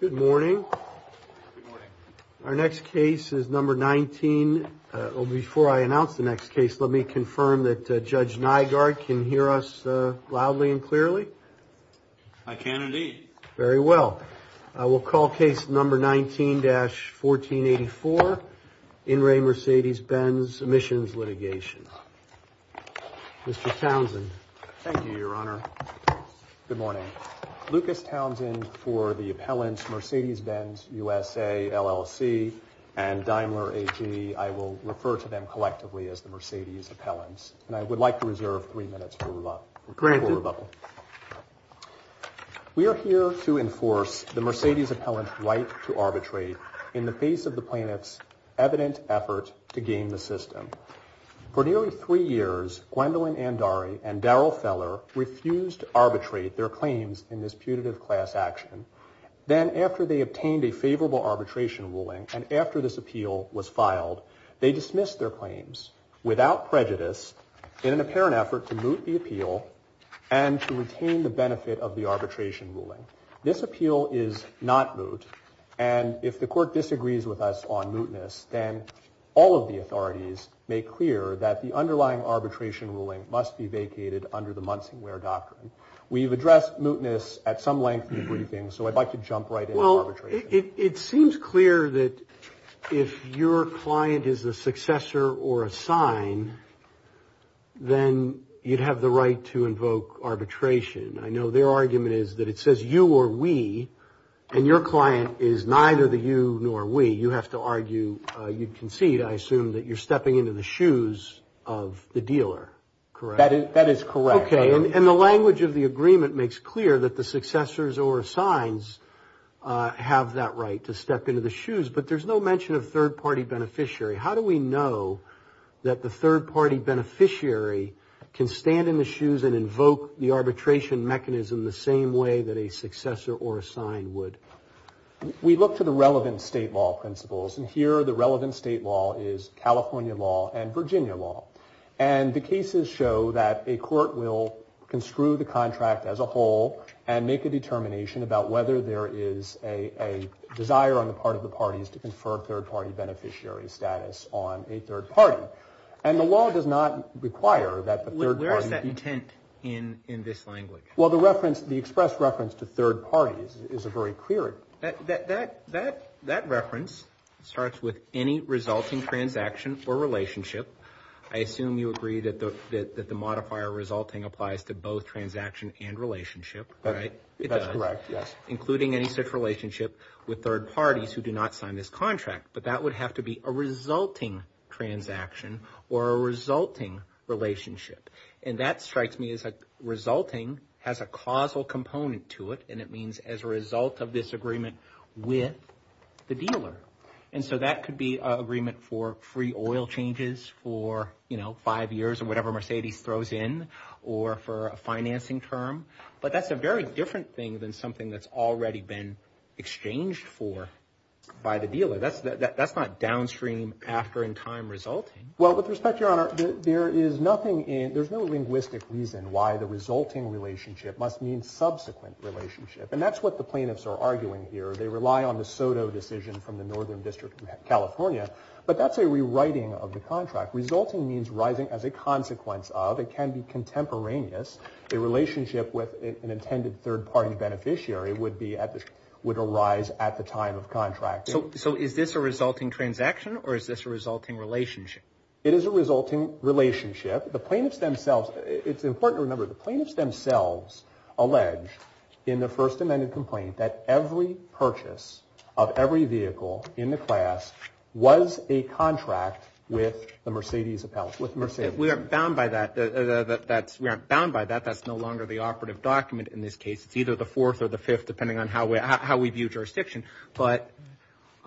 Good morning. Our next case is number 19. Before I announce the next case, let me confirm that Judge Nygaard can hear us loudly and clearly. I can indeed. Very well. I will call case number 19-1484 In Re Mercedes Benz Emissions Litigation. Mr. Townsend. Thank you, Your Honor. Good morning. Lucas Townsend for the appellants Mercedes Benz USA, LLC, and Daimler AG. I will refer to them collectively as the Mercedes appellants, and I would like to reserve three minutes for rebuttal. We are here to enforce the Mercedes appellant's right to arbitrate in the face of the plaintiff's evident effort to game the system. For nearly three years, Gwendolyn Andari and Daryl Feller refused to arbitrate their claims in this putative class action. Then after they obtained a favorable arbitration ruling and after this appeal was filed, they dismissed their claims without prejudice in an apparent effort to moot the appeal and to retain the benefit of the arbitration ruling. This appeal is not moot, and if the court disagrees with us on mootness, then all of the authorities make clear that the underlying arbitration ruling must be vacated under the Munsingware Doctrine. We've addressed mootness at some length in the briefing, so I'd like to jump right into arbitration. It seems clear that if your client is a successor or a sign, then you'd have the right to invoke arbitration. I know their argument is that it says you or we, and your client is neither the you nor we. You have to argue, you concede, I assume, that you're stepping into the shoes of the dealer, correct? Okay, and the language of the agreement makes clear that the successors or signs have that right to step into the shoes, but there's no mention of third-party beneficiary. How do we know that the third-party beneficiary can stand in the shoes and invoke the arbitration mechanism the same way that a successor or a sign would? We look to the relevant state law principles, and here the relevant state law is California law and Virginia law. And the cases show that a court will construe the contract as a whole and make a determination about whether there is a desire on the part of the parties to confer third-party beneficiary status on a third party. And the law does not require that the third party... Where is that intent in this language? Well, the reference, the express reference to third parties is a very clear... That reference starts with any resulting transaction or relationship. I assume you agree that the modifier resulting applies to both transaction and relationship, right? That's correct, yes. Including any such relationship with third parties who do not sign this contract, but that would have to be a resulting transaction or a resulting relationship. And that strikes me as resulting has a causal component to it, and it means as a result of this agreement with the dealer. And so that could be an agreement for free oil changes for, you know, five years or whatever Mercedes throws in, or for a financing term. But that's a very different thing than something that's already been exchanged for by the dealer. That's not downstream after-in-time resulting. Well, with respect, Your Honor, there is nothing in... There's no linguistic reason why the resulting relationship must mean subsequent relationship. And that's what the plaintiffs are arguing here. They rely on the Soto decision from the Northern District of California, but that's a rewriting of the contract. Resulting means rising as a consequence of. It can be contemporaneous. A relationship with an intended third-party beneficiary would arise at the time of contract. So is this a resulting transaction, or is this a resulting relationship? It is a resulting relationship. The plaintiffs themselves... It's important to remember, the plaintiffs themselves allege in the first amended complaint that every purchase of every vehicle in the class was a contract with the Mercedes appellate. We aren't bound by that. We aren't bound by that. That's no longer the operative document in this case. It's either the fourth or the fifth, depending on how we view jurisdiction. But...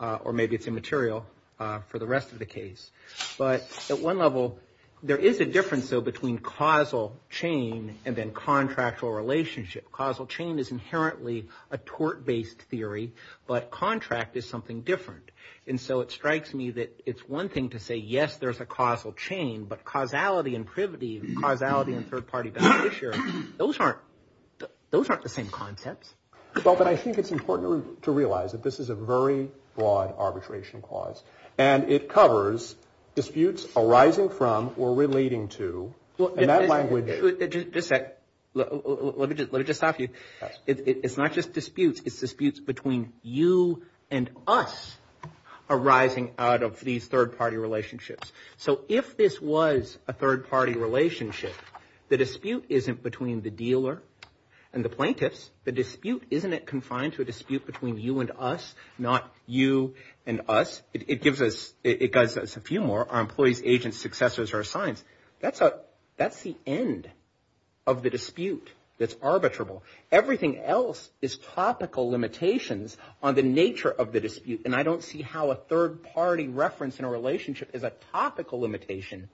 Or maybe it's immaterial for the rest of the case. But at one level, there is a difference, though, between causal chain and then contractual relationship. Causal chain is inherently a tort-based theory, but contract is something different. And so it strikes me that it's one thing to say, yes, there's a causal chain, but causality and privity, causality and third-party beneficiary, those aren't the same concepts. Well, but I think it's important to realize that this is a very broad arbitration clause. And it covers disputes arising from or relating to... Just a sec. Let me just stop you. It's not just disputes. It's disputes between you and us arising out of these third-party relationships. So if this was a third-party relationship, the dispute isn't between the dealer and the plaintiffs. The dispute isn't confined to a dispute between you and us, not you and us. It gives us... It guides us a few more. Our employees, agents, successors, or assigns. That's the end of the dispute that's arbitrable. Everything else is topical limitations on the nature of the dispute. And I don't see how a third-party reference in a relationship is a topical limitation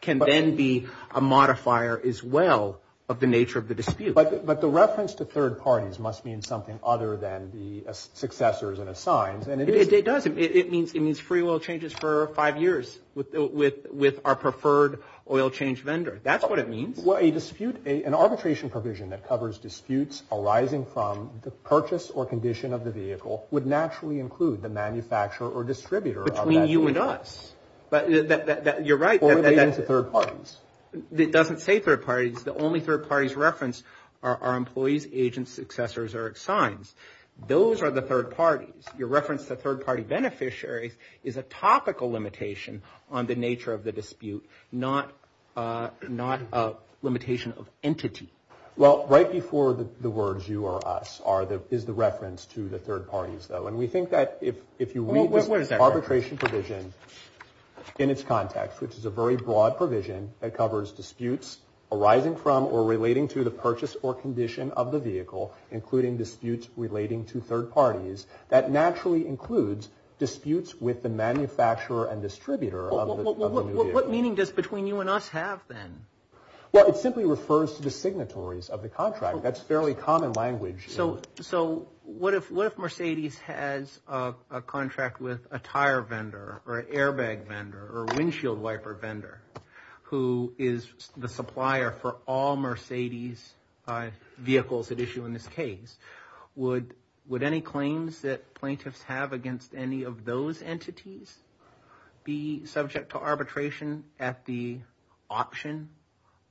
can then be a modifier as well of the nature of the dispute. But the reference to third parties must mean something other than the successors and assigns. It does. It means free oil changes for five years with our preferred oil change vendor. That's what it means. Well, an arbitration provision that covers disputes arising from the purchase or condition of the vehicle would naturally include the manufacturer or distributor of that vehicle. Between you and us. You're right. Or relating to third parties. It doesn't say third parties. The only third parties referenced are our employees, agents, successors, or assigns. Those are the third parties. Your reference to third-party beneficiaries is a topical limitation on the nature of the dispute, not a limitation of entity. Well, right before the words you or us is the reference to the third parties, though. And we think that if you read this arbitration provision in its context, which is a very broad provision that covers disputes arising from or relating to the purchase or condition of the vehicle, including disputes relating to third parties, that naturally includes disputes with the manufacturer and distributor of the new vehicle. What meaning does between you and us have, then? Well, it simply refers to the signatories of the contract. That's fairly common language. So what if Mercedes has a contract with a tire vendor or an airbag vendor or windshield wiper vendor who is the supplier for all Mercedes vehicles at issue in this case? Would any claims that plaintiffs have against any of those entities be subject to arbitration at the option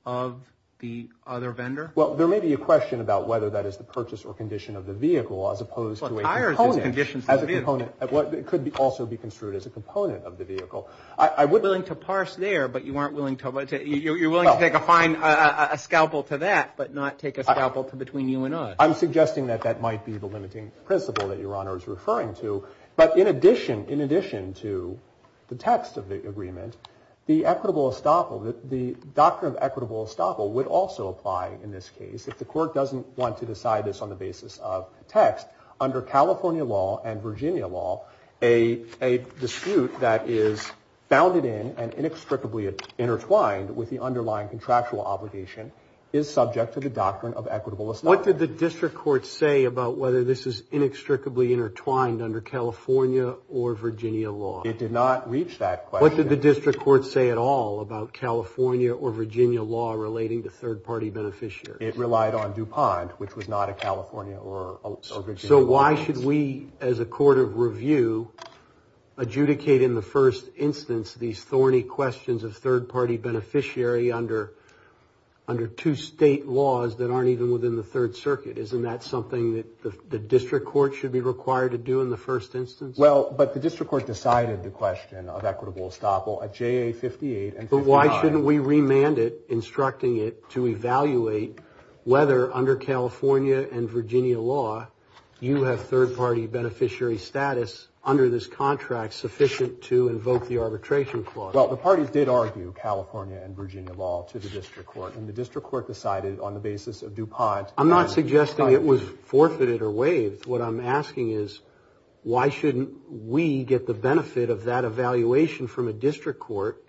of the other vendor? Well, there may be a question about whether that is the purchase or condition of the vehicle as opposed to a component. Well, a tire is a condition of the vehicle. It could also be construed as a component of the vehicle. You're willing to parse there, but you're willing to take a scalpel to that, but not take a scalpel between you and us. I'm suggesting that that might be the limiting principle that Your Honor is referring to. But in addition to the text of the agreement, the equitable estoppel, the doctrine of equitable estoppel would also apply in this case. If the court doesn't want to decide this on the basis of text, under California law and Virginia law, a dispute that is bounded in and inextricably intertwined with the underlying contractual obligation is subject to the doctrine of equitable estoppel. What did the district court say about whether this is inextricably intertwined under California or Virginia law? It did not reach that question. What did the district court say at all about California or Virginia law relating to third-party beneficiaries? It relied on DuPont, which was not a California or Virginia law. So why should we, as a court of review, adjudicate in the first instance these thorny questions of third-party beneficiary under two state laws that aren't even within the Third Circuit? Isn't that something that the district court should be required to do in the first instance? Well, but the district court decided the question of equitable estoppel at JA 58 and 59. Why shouldn't we remand it, instructing it to evaluate whether, under California and Virginia law, you have third-party beneficiary status under this contract sufficient to invoke the arbitration clause? Well, the parties did argue California and Virginia law to the district court, and the district court decided on the basis of DuPont. I'm not suggesting it was forfeited or waived. What I'm asking is, why shouldn't we get the benefit of that evaluation from a district court,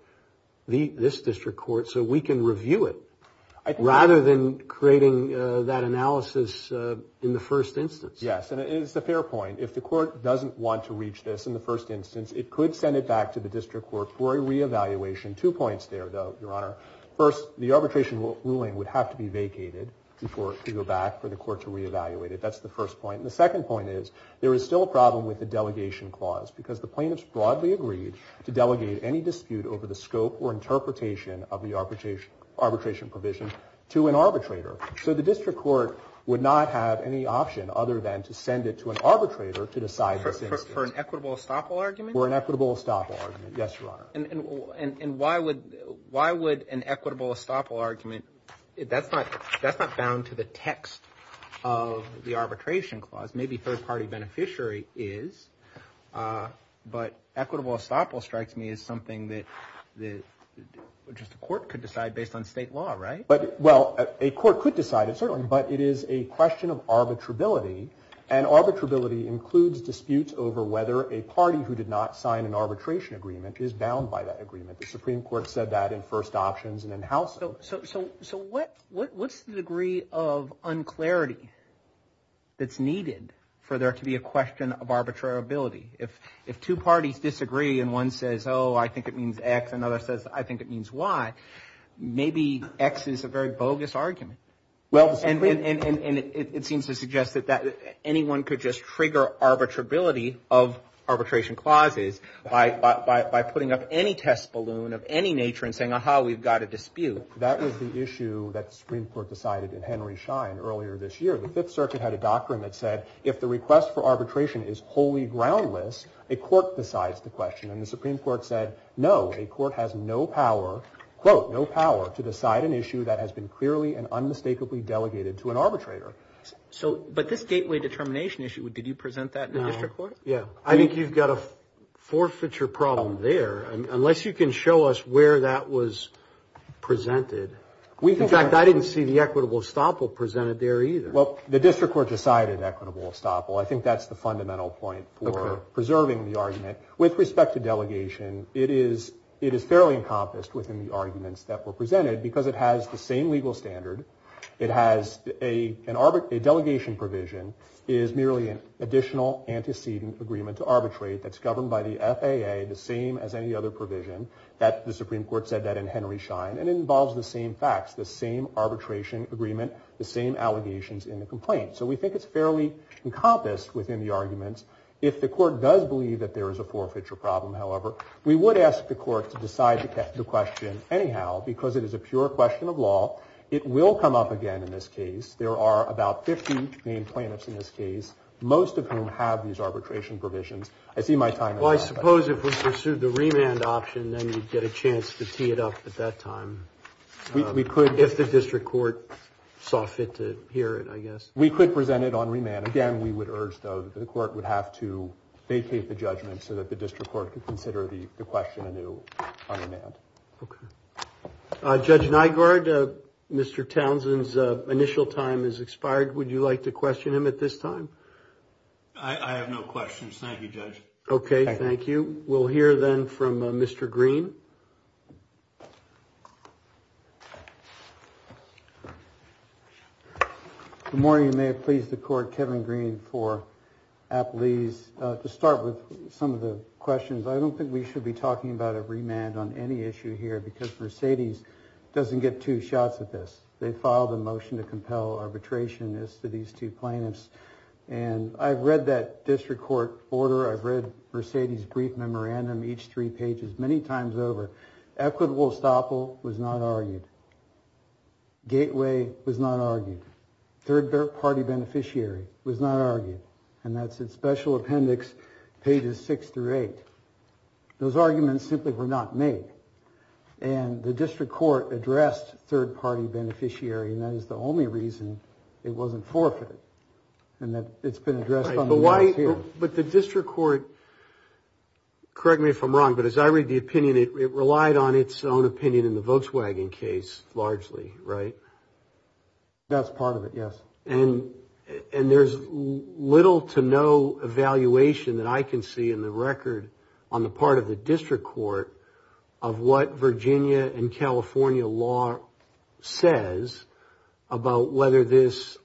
this district court, so we can review it rather than creating that analysis in the first instance? Yes, and it's a fair point. If the court doesn't want to reach this in the first instance, it could send it back to the district court for a reevaluation. Two points there, though, Your Honor. First, the arbitration ruling would have to be vacated before it could go back for the court to reevaluate it. That's the first point. And the second point is, there is still a problem with the delegation clause, because the plaintiffs broadly agreed to delegate any dispute over the scope or interpretation of the arbitration provision to an arbitrator. So the district court would not have any option other than to send it to an arbitrator to decide this instance. For an equitable estoppel argument? For an equitable estoppel argument, yes, Your Honor. And why would an equitable estoppel argument, that's not bound to the text of the arbitration clause. Maybe third party beneficiary is, but equitable estoppel strikes me as something that just a court could decide based on state law, right? Well, a court could decide it, certainly, but it is a question of arbitrability. And arbitrability includes disputes over whether a party who did not sign an arbitration agreement is bound by that agreement. The Supreme Court said that in first options and in housing. So what's the degree of unclarity that's needed for there to be a question of arbitrability? If two parties disagree and one says, oh, I think it means X, another says, I think it means Y, maybe X is a very bogus argument. And it seems to suggest that anyone could just trigger arbitrability of arbitration clauses by putting up any test balloon of any nature and saying, aha, we've got a dispute. That was the issue that the Supreme Court decided in Henry Schein earlier this year. The Fifth Circuit had a doctrine that said if the request for arbitration is wholly groundless, a court decides the question. And the Supreme Court said, no, a court has no power, quote, no power to decide an issue that has been clearly and unmistakably delegated to an arbitrator. But this gateway determination issue, did you present that in the district court? Yeah, I think you've got a forfeiture problem there. Unless you can show us where that was presented. In fact, I didn't see the equitable estoppel presented there either. Well, the district court decided equitable estoppel. I think that's the fundamental point for preserving the argument. With respect to delegation, it is fairly encompassed within the arguments that were presented because it has the same legal standard. It has a delegation provision is merely an additional antecedent agreement to arbitrate that's governed by the FAA, the same as any other provision. The Supreme Court said that in Henry Schein. And it involves the same facts, the same arbitration agreement, the same allegations in the complaint. So we think it's fairly encompassed within the arguments. If the court does believe that there is a forfeiture problem, however, we would ask the court to decide the question. Anyhow, because it is a pure question of law, it will come up again in this case. There are about 50 main plaintiffs in this case, most of whom have these arbitration provisions. I see my time. Well, I suppose if we pursued the remand option, then you'd get a chance to tee it up at that time. We could if the district court saw fit to hear it, I guess. If presented on remand, again, we would urge, though, that the court would have to vacate the judgment so that the district court could consider the question a new remand. OK. Judge Nygaard, Mr. Townsend's initial time is expired. Would you like to question him at this time? I have no questions. Thank you, Judge. OK, thank you. We'll hear then from Mr. Green. Thank you. Good morning. May it please the court. Kevin Green for Appalese. To start with some of the questions, I don't think we should be talking about a remand on any issue here because Mercedes doesn't get two shots at this. They filed a motion to compel arbitration as to these two plaintiffs. And I've read that district court order. I've read Mercedes' brief memorandum, each three pages, many times over. Equitable estoppel was not argued. Gateway was not argued. Third party beneficiary was not argued. And that's in special appendix pages six through eight. Those arguments simply were not made. And the district court addressed third party beneficiary. And that is the only reason it wasn't forfeited. And that it's been addressed. But the district court, correct me if I'm wrong, but as I read the opinion, it relied on its own opinion in the Volkswagen case largely, right? That's part of it, yes. And there's little to no evaluation that I can see in the record on the part of the district court of what Virginia and California law says about whether this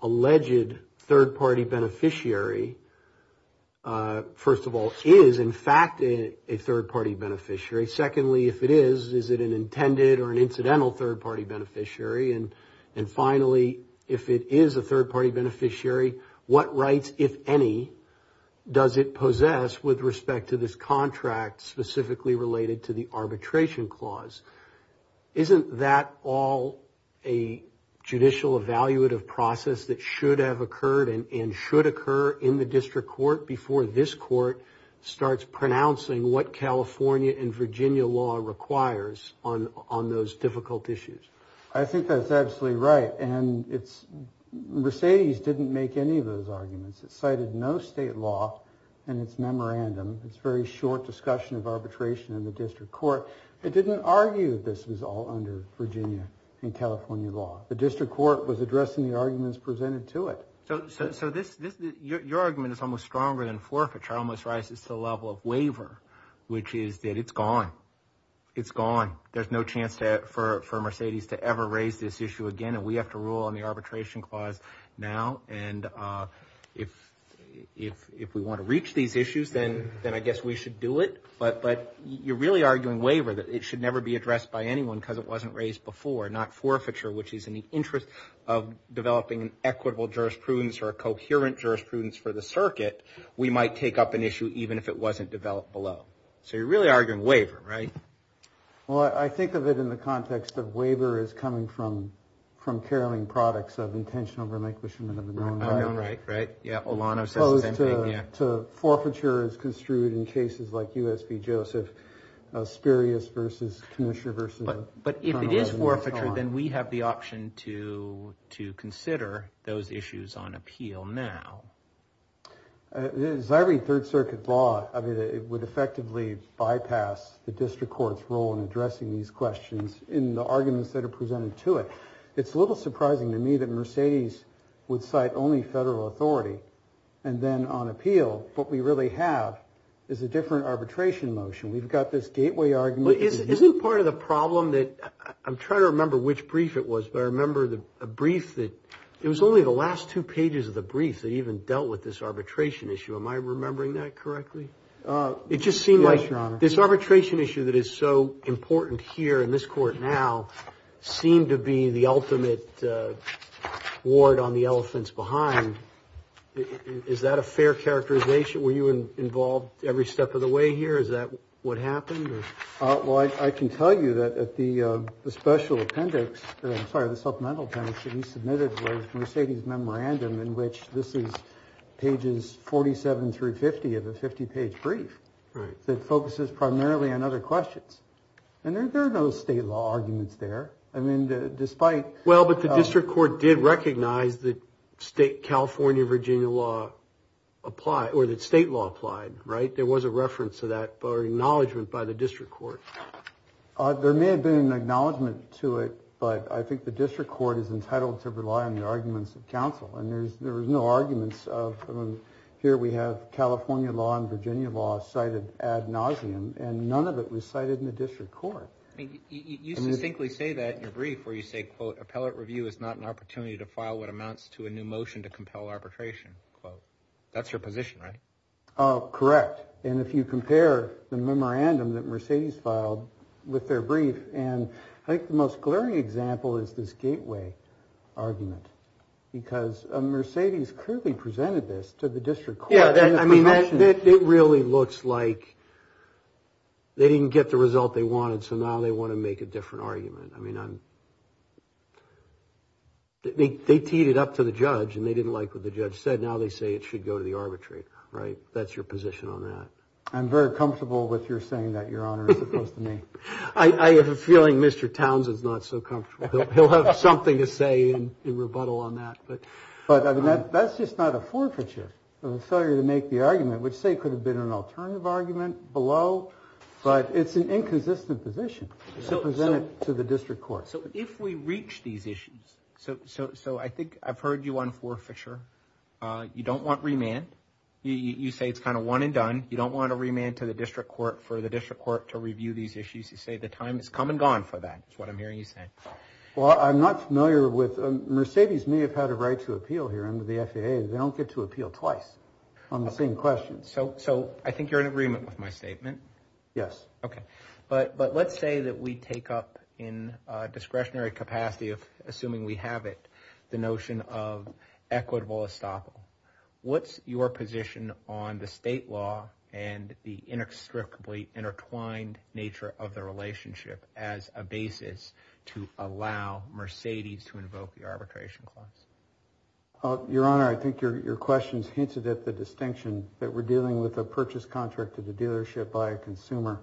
first of all, is in fact a third party beneficiary. Secondly, if it is, is it an intended or an incidental third party beneficiary? And finally, if it is a third party beneficiary, what rights, if any, does it possess with respect to this contract specifically related to the arbitration clause? Isn't that all a judicial evaluative process that should have occurred and should occur in the district court before this court starts pronouncing what California and Virginia law requires on those difficult issues? I think that's absolutely right. And it's Mercedes didn't make any of those arguments. It cited no state law in its memorandum. It's very short discussion of arbitration in the district court. It didn't argue this was all under Virginia and California law. The district court was addressing the arguments presented to it. So this, your argument is almost stronger than forfeiture, almost rises to the level of waiver, which is that it's gone. It's gone. There's no chance for Mercedes to ever raise this issue again. And we have to rule on the arbitration clause now. And if we want to reach these issues, then I guess we should do it. But you're really arguing waiver that it should never be addressed by anyone because it wasn't raised before, not forfeiture, which is in the interest of developing an equitable jurisprudence or a coherent jurisprudence for the circuit. We might take up an issue even if it wasn't developed below. So you're really arguing waiver, right? Well, I think of it in the context of waiver is coming from from caroling products of intentional relinquishment of the right. Right. Yeah. Olano. So forfeiture is construed in cases like U.S.B. Joseph Spirius versus commissioner versus. But if it is forfeiture, then we have the option to to consider those issues on appeal. Now, as I read Third Circuit law, I mean, it would effectively bypass the district court's role in addressing these questions in the arguments that are presented to it. It's a little surprising to me that Mercedes would cite only federal authority and then on appeal. What we really have is a different arbitration motion. We've got this gateway argument. Isn't part of the problem that I'm trying to remember which brief it was. I remember the brief that it was only the last two pages of the brief that even dealt with this arbitration issue. Am I remembering that correctly? It just seemed like this arbitration issue that is so important here in this court now seem to be the ultimate ward on the elephants behind. Is that a fair characterization? Were you involved every step of the way here? Is that what happened? Well, I can tell you that at the special appendix, I'm sorry, the supplemental appendix that he submitted, Mercedes memorandum in which this is pages 47 through 50 of a 50 page brief that focuses primarily on other questions. And there are no state law arguments there. I mean, despite. Well, but the district court did recognize that state California, Virginia law apply or that state law applied. Right. There was a reference to that or acknowledgement by the district court. There may have been an acknowledgement to it, but I think the district court is entitled to rely on the arguments of counsel. And there's there was no arguments of here. We have California law and Virginia law cited ad nauseum and none of it was cited in the district court. I mean, you distinctly say that your brief where you say, quote, appellate review is not an opportunity to file what amounts to a new motion to compel arbitration. That's your position, right? Correct. And if you compare the memorandum that Mercedes filed with their brief and I think the most glaring example is this gateway argument, because Mercedes clearly presented this to the district. Yeah, I mean, it really looks like they didn't get the result they wanted. So now they want to make a different argument. I mean, they teed it up to the judge and they didn't like what the judge said. Now they say it should go to the arbitrary. Right. That's your position on that. I'm very comfortable with your saying that your honor is supposed to me. I have a feeling Mr. Towns is not so comfortable. He'll have something to say in rebuttal on that. But but that's just not a forfeiture failure to make the argument, which say could have been an alternative argument below. But it's an inconsistent position. So present it to the district court. So if we reach these issues. So so so I think I've heard you on forfeiture. You don't want remand. You say it's kind of one and done. You don't want to remand to the district court for the district court to review these issues. You say the time has come and gone for that. That's what I'm hearing you say. Well, I'm not familiar with Mercedes may have had a right to appeal here under the FDA. They don't get to appeal twice on the same question. So so I think you're in agreement with my statement. Yes. OK. But but let's say that we take up in discretionary capacity of assuming we have it. The notion of equitable estoppel. What's your position on the state law and the inextricably intertwined nature of the relationship as a basis to allow Mercedes to invoke the arbitration clause? Your Honor, I think your questions hinted at the distinction that we're dealing with a purchase contract to the dealership by a consumer.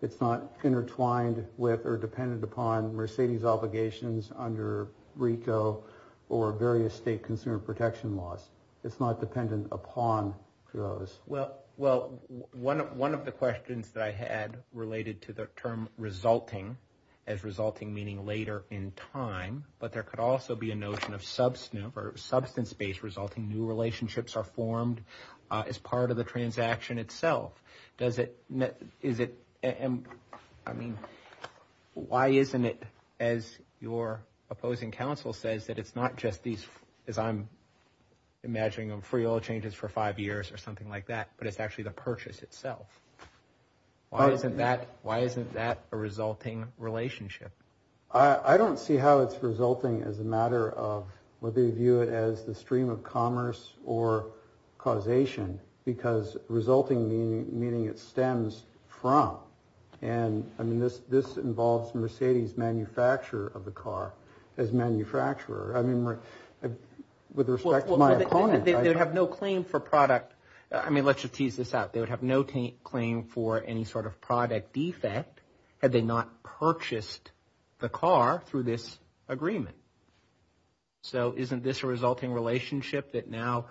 It's not intertwined with or dependent upon Mercedes obligations under Rico or various state consumer protection laws. It's not dependent upon those. Well, well, one of one of the questions that I had related to the term resulting as resulting, meaning later in time. But there could also be a notion of substance or substance based resulting. New relationships are formed as part of the transaction itself. Does it? Is it? And I mean, why isn't it, as your opposing counsel says, that it's not just these, as I'm imagining, free all changes for five years or something like that, but it's actually the purchase itself. Why isn't that why isn't that a resulting relationship? I don't see how it's resulting as a matter of whether you view it as the stream of commerce or causation, because resulting meaning it stems from. And I mean, this this involves Mercedes manufacturer of the car as manufacturer. I mean, with respect to my opponent, they have no claim for product. I mean, let's just tease this out. They would have no claim for any sort of product defect had they not purchased the car through this agreement. So isn't this a resulting relationship that now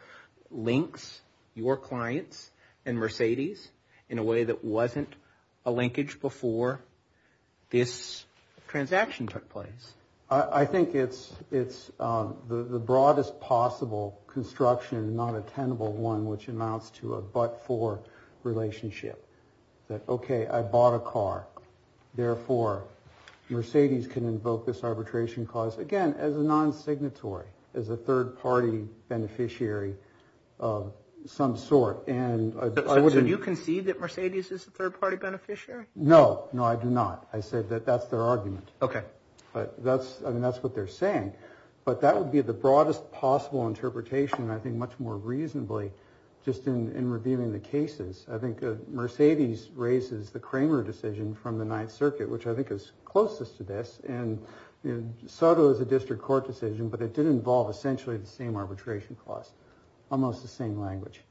links your clients and Mercedes in a way that wasn't a linkage before this transaction took place? I think it's it's the broadest possible construction, not a tenable one, which amounts to a but for relationship that, OK, I bought a car. Therefore, Mercedes can invoke this arbitration clause again as a non-signatory, as a third party beneficiary of some sort. And you can see that Mercedes is a third party beneficiary. No, no, I do not. I said that that's their argument. OK, but that's I mean, that's what they're saying. But that would be the broadest possible interpretation, I think, much more reasonably just in reviewing the cases. I think Mercedes raises the Kramer decision from the Ninth Circuit, which I think is closest to this. And Soto is a district court decision, but it did involve essentially the same arbitration clause, almost the same language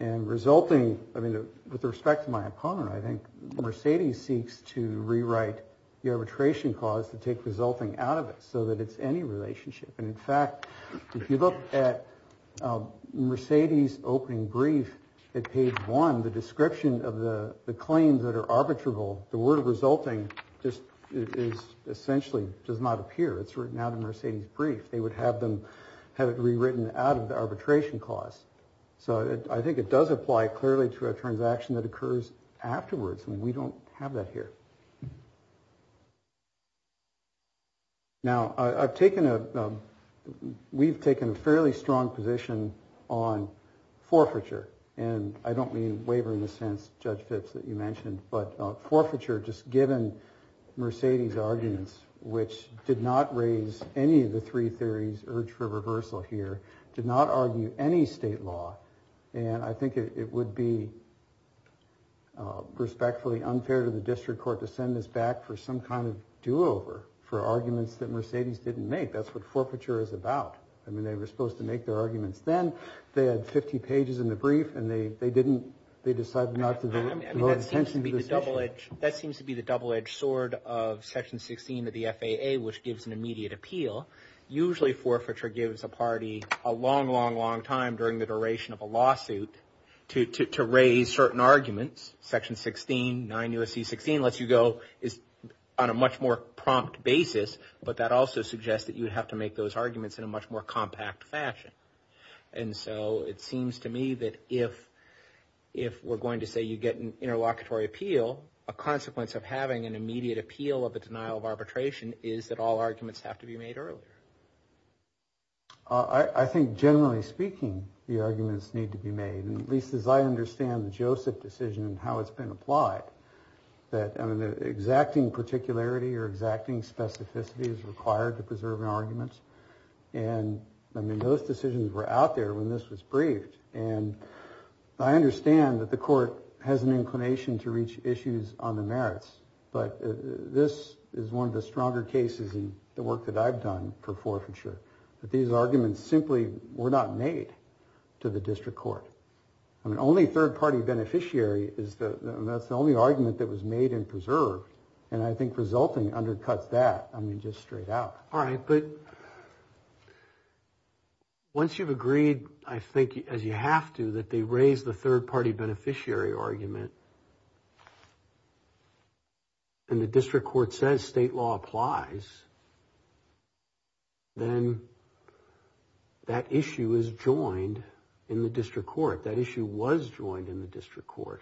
and resulting. I mean, with respect to my opponent, I think Mercedes seeks to rewrite the arbitration clause to take resulting out of it so that it's any relationship. And in fact, if you look at Mercedes opening brief at page one, the description of the claims that are arbitrable, the word resulting just is essentially does not appear. It's written out of Mercedes brief. They would have them have it rewritten out of the arbitration clause. So I think it does apply clearly to a transaction that occurs afterwards. And we don't have that here. Now, I've taken a we've taken a fairly strong position on forfeiture, and I don't mean wavering the sense, Judge Fitz, that you mentioned. But forfeiture, just given Mercedes arguments, which did not raise any of the three theories, urge for reversal here, did not argue any state law. And I think it would be respectfully unfair to the district court to send this back for some kind of do over for arguments that Mercedes didn't make. That's what forfeiture is about. I mean, they were supposed to make their arguments then. They had 50 pages in the brief and they they didn't. They decided not to. I mean, that seems to be the double edged sword of Section 16 of the FAA, which gives an immediate appeal. Usually forfeiture gives a party a long, long, long time during the duration of a lawsuit to raise certain arguments. Section 16, 9 U.S.C. 16 lets you go is on a much more prompt basis. But that also suggests that you would have to make those arguments in a much more compact fashion. And so it seems to me that if if we're going to say you get an interlocutory appeal, a consequence of having an immediate appeal of a denial of arbitration is that all arguments have to be made earlier. I think generally speaking, the arguments need to be made, at least as I understand the Joseph decision and how it's been applied, that exacting particularity or exacting specificity is required to preserve arguments. And I mean, those decisions were out there when this was briefed. And I understand that the court has an inclination to reach issues on the merits. But this is one of the stronger cases in the work that I've done for forfeiture. But these arguments simply were not made to the district court. I mean, only third party beneficiary is the only argument that was made and preserved. And I think resulting undercuts that. I mean, just straight out. All right. But once you've agreed, I think, as you have to, that they raise the third party beneficiary argument. And the district court says state law applies. Then that issue is joined in the district court. That issue was joined in the district court.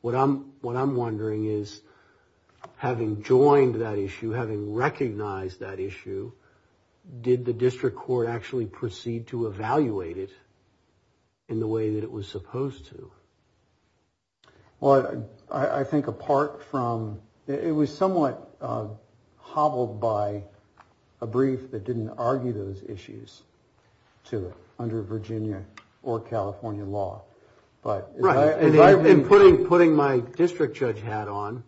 What I'm what I'm wondering is having joined that issue, having recognized that issue, did the district court actually proceed to evaluate it in the way that it was supposed to? Well, I think apart from it was somewhat hobbled by a brief that didn't argue those issues to under Virginia or California law. But I've been putting putting my district judge hat on.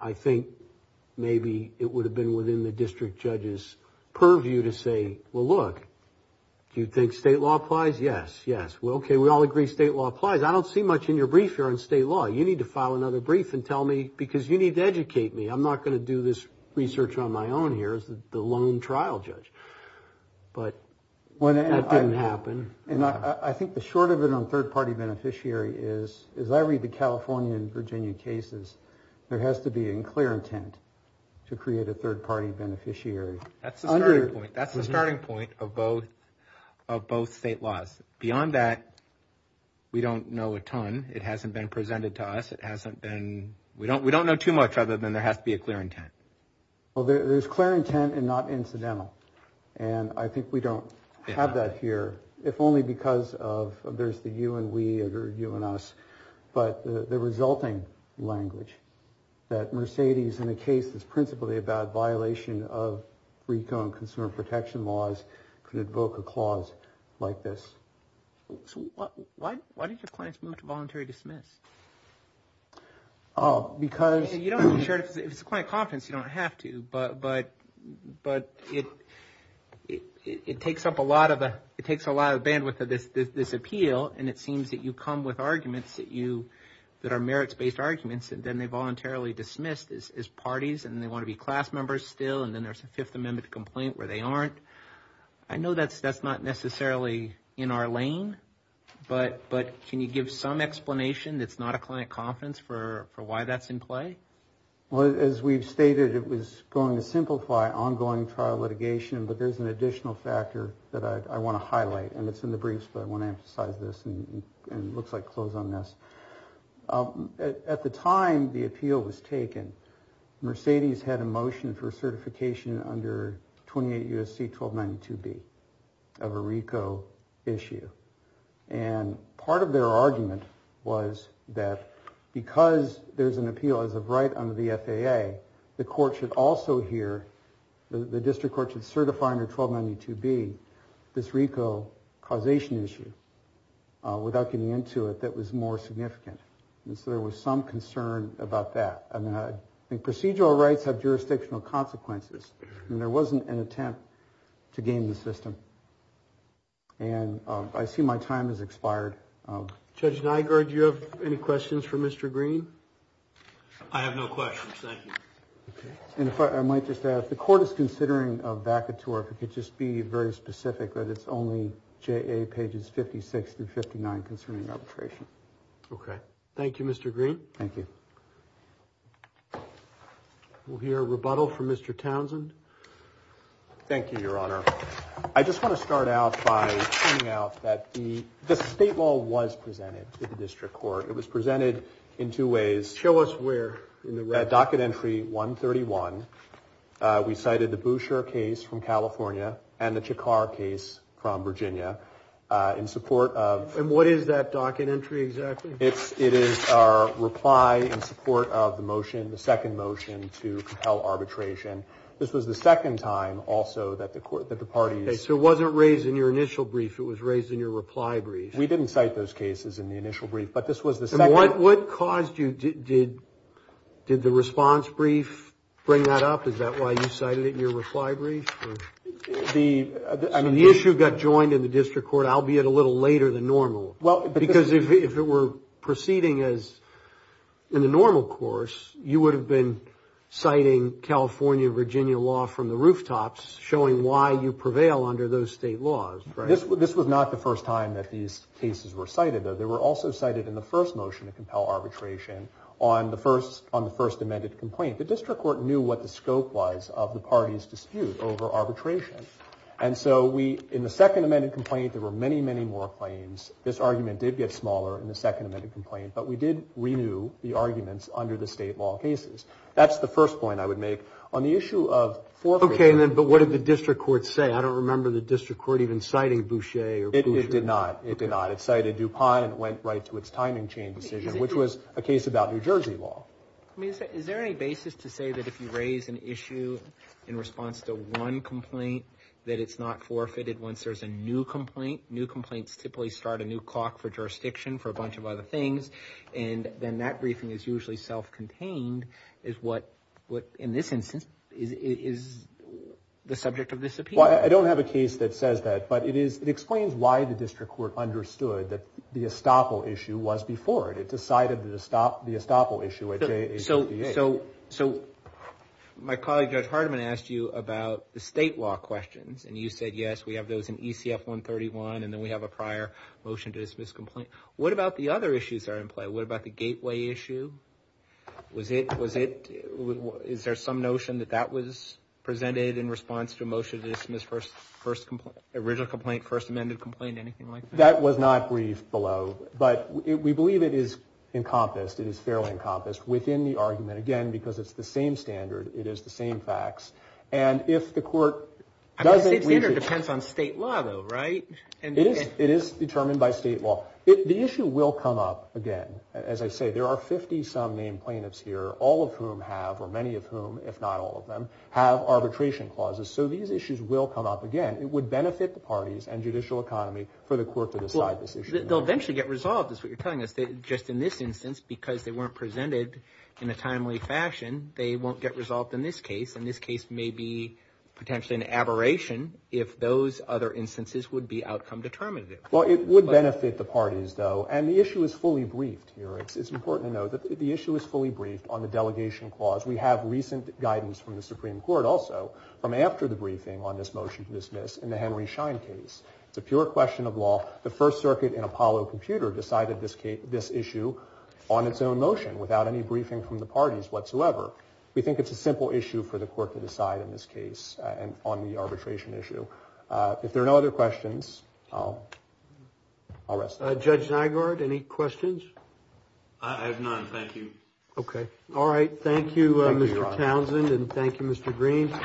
I think maybe it would have been within the district judge's purview to say, well, look, do you think state law applies? Yes. Yes. Well, OK. We all agree. State law applies. I don't see much in your brief here on state law. You need to file another brief and tell me because you need to educate me. I'm not going to do this research on my own. Here's the lone trial judge. But when it didn't happen and I think the short of it on third party beneficiary is, is I read the California and Virginia cases. There has to be in clear intent to create a third party beneficiary. That's the point. That's the starting point of both of both state laws. Beyond that, we don't know a ton. It hasn't been presented to us. It hasn't been. We don't we don't know too much other than there has to be a clear intent. Well, there's clear intent and not incidental. And I think we don't have that here. If only because of there's the you and we are you and us. But the resulting language that Mercedes in the case is principally about violation of recon, consumer protection laws could invoke a clause like this. Why did your clients move to voluntary dismiss? Because you don't share it. It's quite confidence. You don't have to. But but but it it takes up a lot of it takes a lot of bandwidth of this appeal. And it seems that you come with arguments that you that are merits based arguments. And then they voluntarily dismissed as parties and they want to be class members still. And then there's a Fifth Amendment complaint where they aren't. I know that's that's not necessarily in our lane, but but can you give some explanation? That's not a client confidence for for why that's in play. Well, as we've stated, it was going to simplify ongoing trial litigation. But there's an additional factor that I want to highlight. And it's in the briefs, but I want to emphasize this. And it looks like close on this. At the time the appeal was taken. Mercedes had a motion for certification under 28 U.S.C. 1292B of a RICO issue. And part of their argument was that because there's an appeal as of right under the FAA, the court should also hear the district court should certify under 1292B this RICO causation issue without getting into it. That was more significant. And so there was some concern about that. I mean, procedural rights have jurisdictional consequences. And there wasn't an attempt to game the system. And I see my time has expired. Judge Nygaard, you have any questions for Mr. Green? I have no questions. Thank you. And if I might just add, if the court is considering a vacatur, if it could just be very specific that it's only J.A. pages 56 through 59 concerning arbitration. OK. Thank you, Mr. Green. Thank you. We'll hear a rebuttal from Mr. Townsend. Thank you, Your Honor. I just want to start out by pointing out that the state law was presented to the district court. It was presented in two ways. Show us where. Docket entry 131. We cited the Boucher case from California and the Chakar case from Virginia in support of. And what is that docket entry exactly? It is our reply in support of the motion, the second motion to compel arbitration. This was the second time also that the court, that the parties. So it wasn't raised in your initial brief. It was raised in your reply brief. We didn't cite those cases in the initial brief, but this was the second. But what caused you did did the response brief bring that up? Is that why you cited it in your reply brief? The I mean, the issue got joined in the district court, albeit a little later than normal. Well, because if it were proceeding as in the normal course, you would have been citing California, Virginia law from the rooftops, showing why you prevail under those state laws. Right. This was not the first time that these cases were cited. They were also cited in the first motion to compel arbitration on the first on the first amended complaint. The district court knew what the scope was of the party's dispute over arbitration. And so we in the second amended complaint, there were many, many more claims. This argument did get smaller in the second amended complaint, but we did renew the arguments under the state law cases. That's the first point I would make on the issue of. OK, then. But what did the district court say? I don't remember the district court even citing Boucher. It did not. It did not. It cited DuPont and went right to its timing chain decision, which was a case about New Jersey law. Is there any basis to say that if you raise an issue in response to one complaint, that it's not forfeited once there's a new complaint? New complaints typically start a new clock for jurisdiction for a bunch of other things. And then that briefing is usually self-contained. Is what what in this instance is the subject of this? Well, I don't have a case that says that, but it is. It explains why the district court understood that the estoppel issue was before it. It decided to stop the estoppel issue. So, so, so my colleague, Judge Hardiman, asked you about the state law questions. And you said, yes, we have those in ECF 131. And then we have a prior motion to dismiss complaint. What about the other issues are in play? What about the gateway issue? Was it was it? Is there some notion that that was presented in response to a motion to dismiss first first original complaint, first amended complaint, anything like that? That was not briefed below, but we believe it is encompassed. It is fairly encompassed within the argument, again, because it's the same standard. It is the same facts. And if the court doesn't, it depends on state law, though, right? And it is determined by state law. The issue will come up again. As I say, there are 50 some named plaintiffs here, all of whom have or many of whom, if not all of them, have arbitration clauses. So these issues will come up again. It would benefit the parties and judicial economy for the court to decide this issue. They'll eventually get resolved. That's what you're telling us. Just in this instance, because they weren't presented in a timely fashion, they won't get resolved in this case. And this case may be potentially an aberration if those other instances would be outcome determinative. Well, it would benefit the parties, though. And the issue is fully briefed here. It's important to note that the issue is fully briefed on the delegation clause. We have recent guidance from the Supreme Court also from after the briefing on this motion to dismiss in the Henry Schein case. It's a pure question of law. The First Circuit in Apollo Computer decided this issue on its own motion without any briefing from the parties whatsoever. We think it's a simple issue for the court to decide in this case on the arbitration issue. If there are no other questions, I'll rest. Judge Nygaard, any questions? I have none. Thank you. Okay. All right. Thank you, Mr. Townsend. Thank you, Your Honor.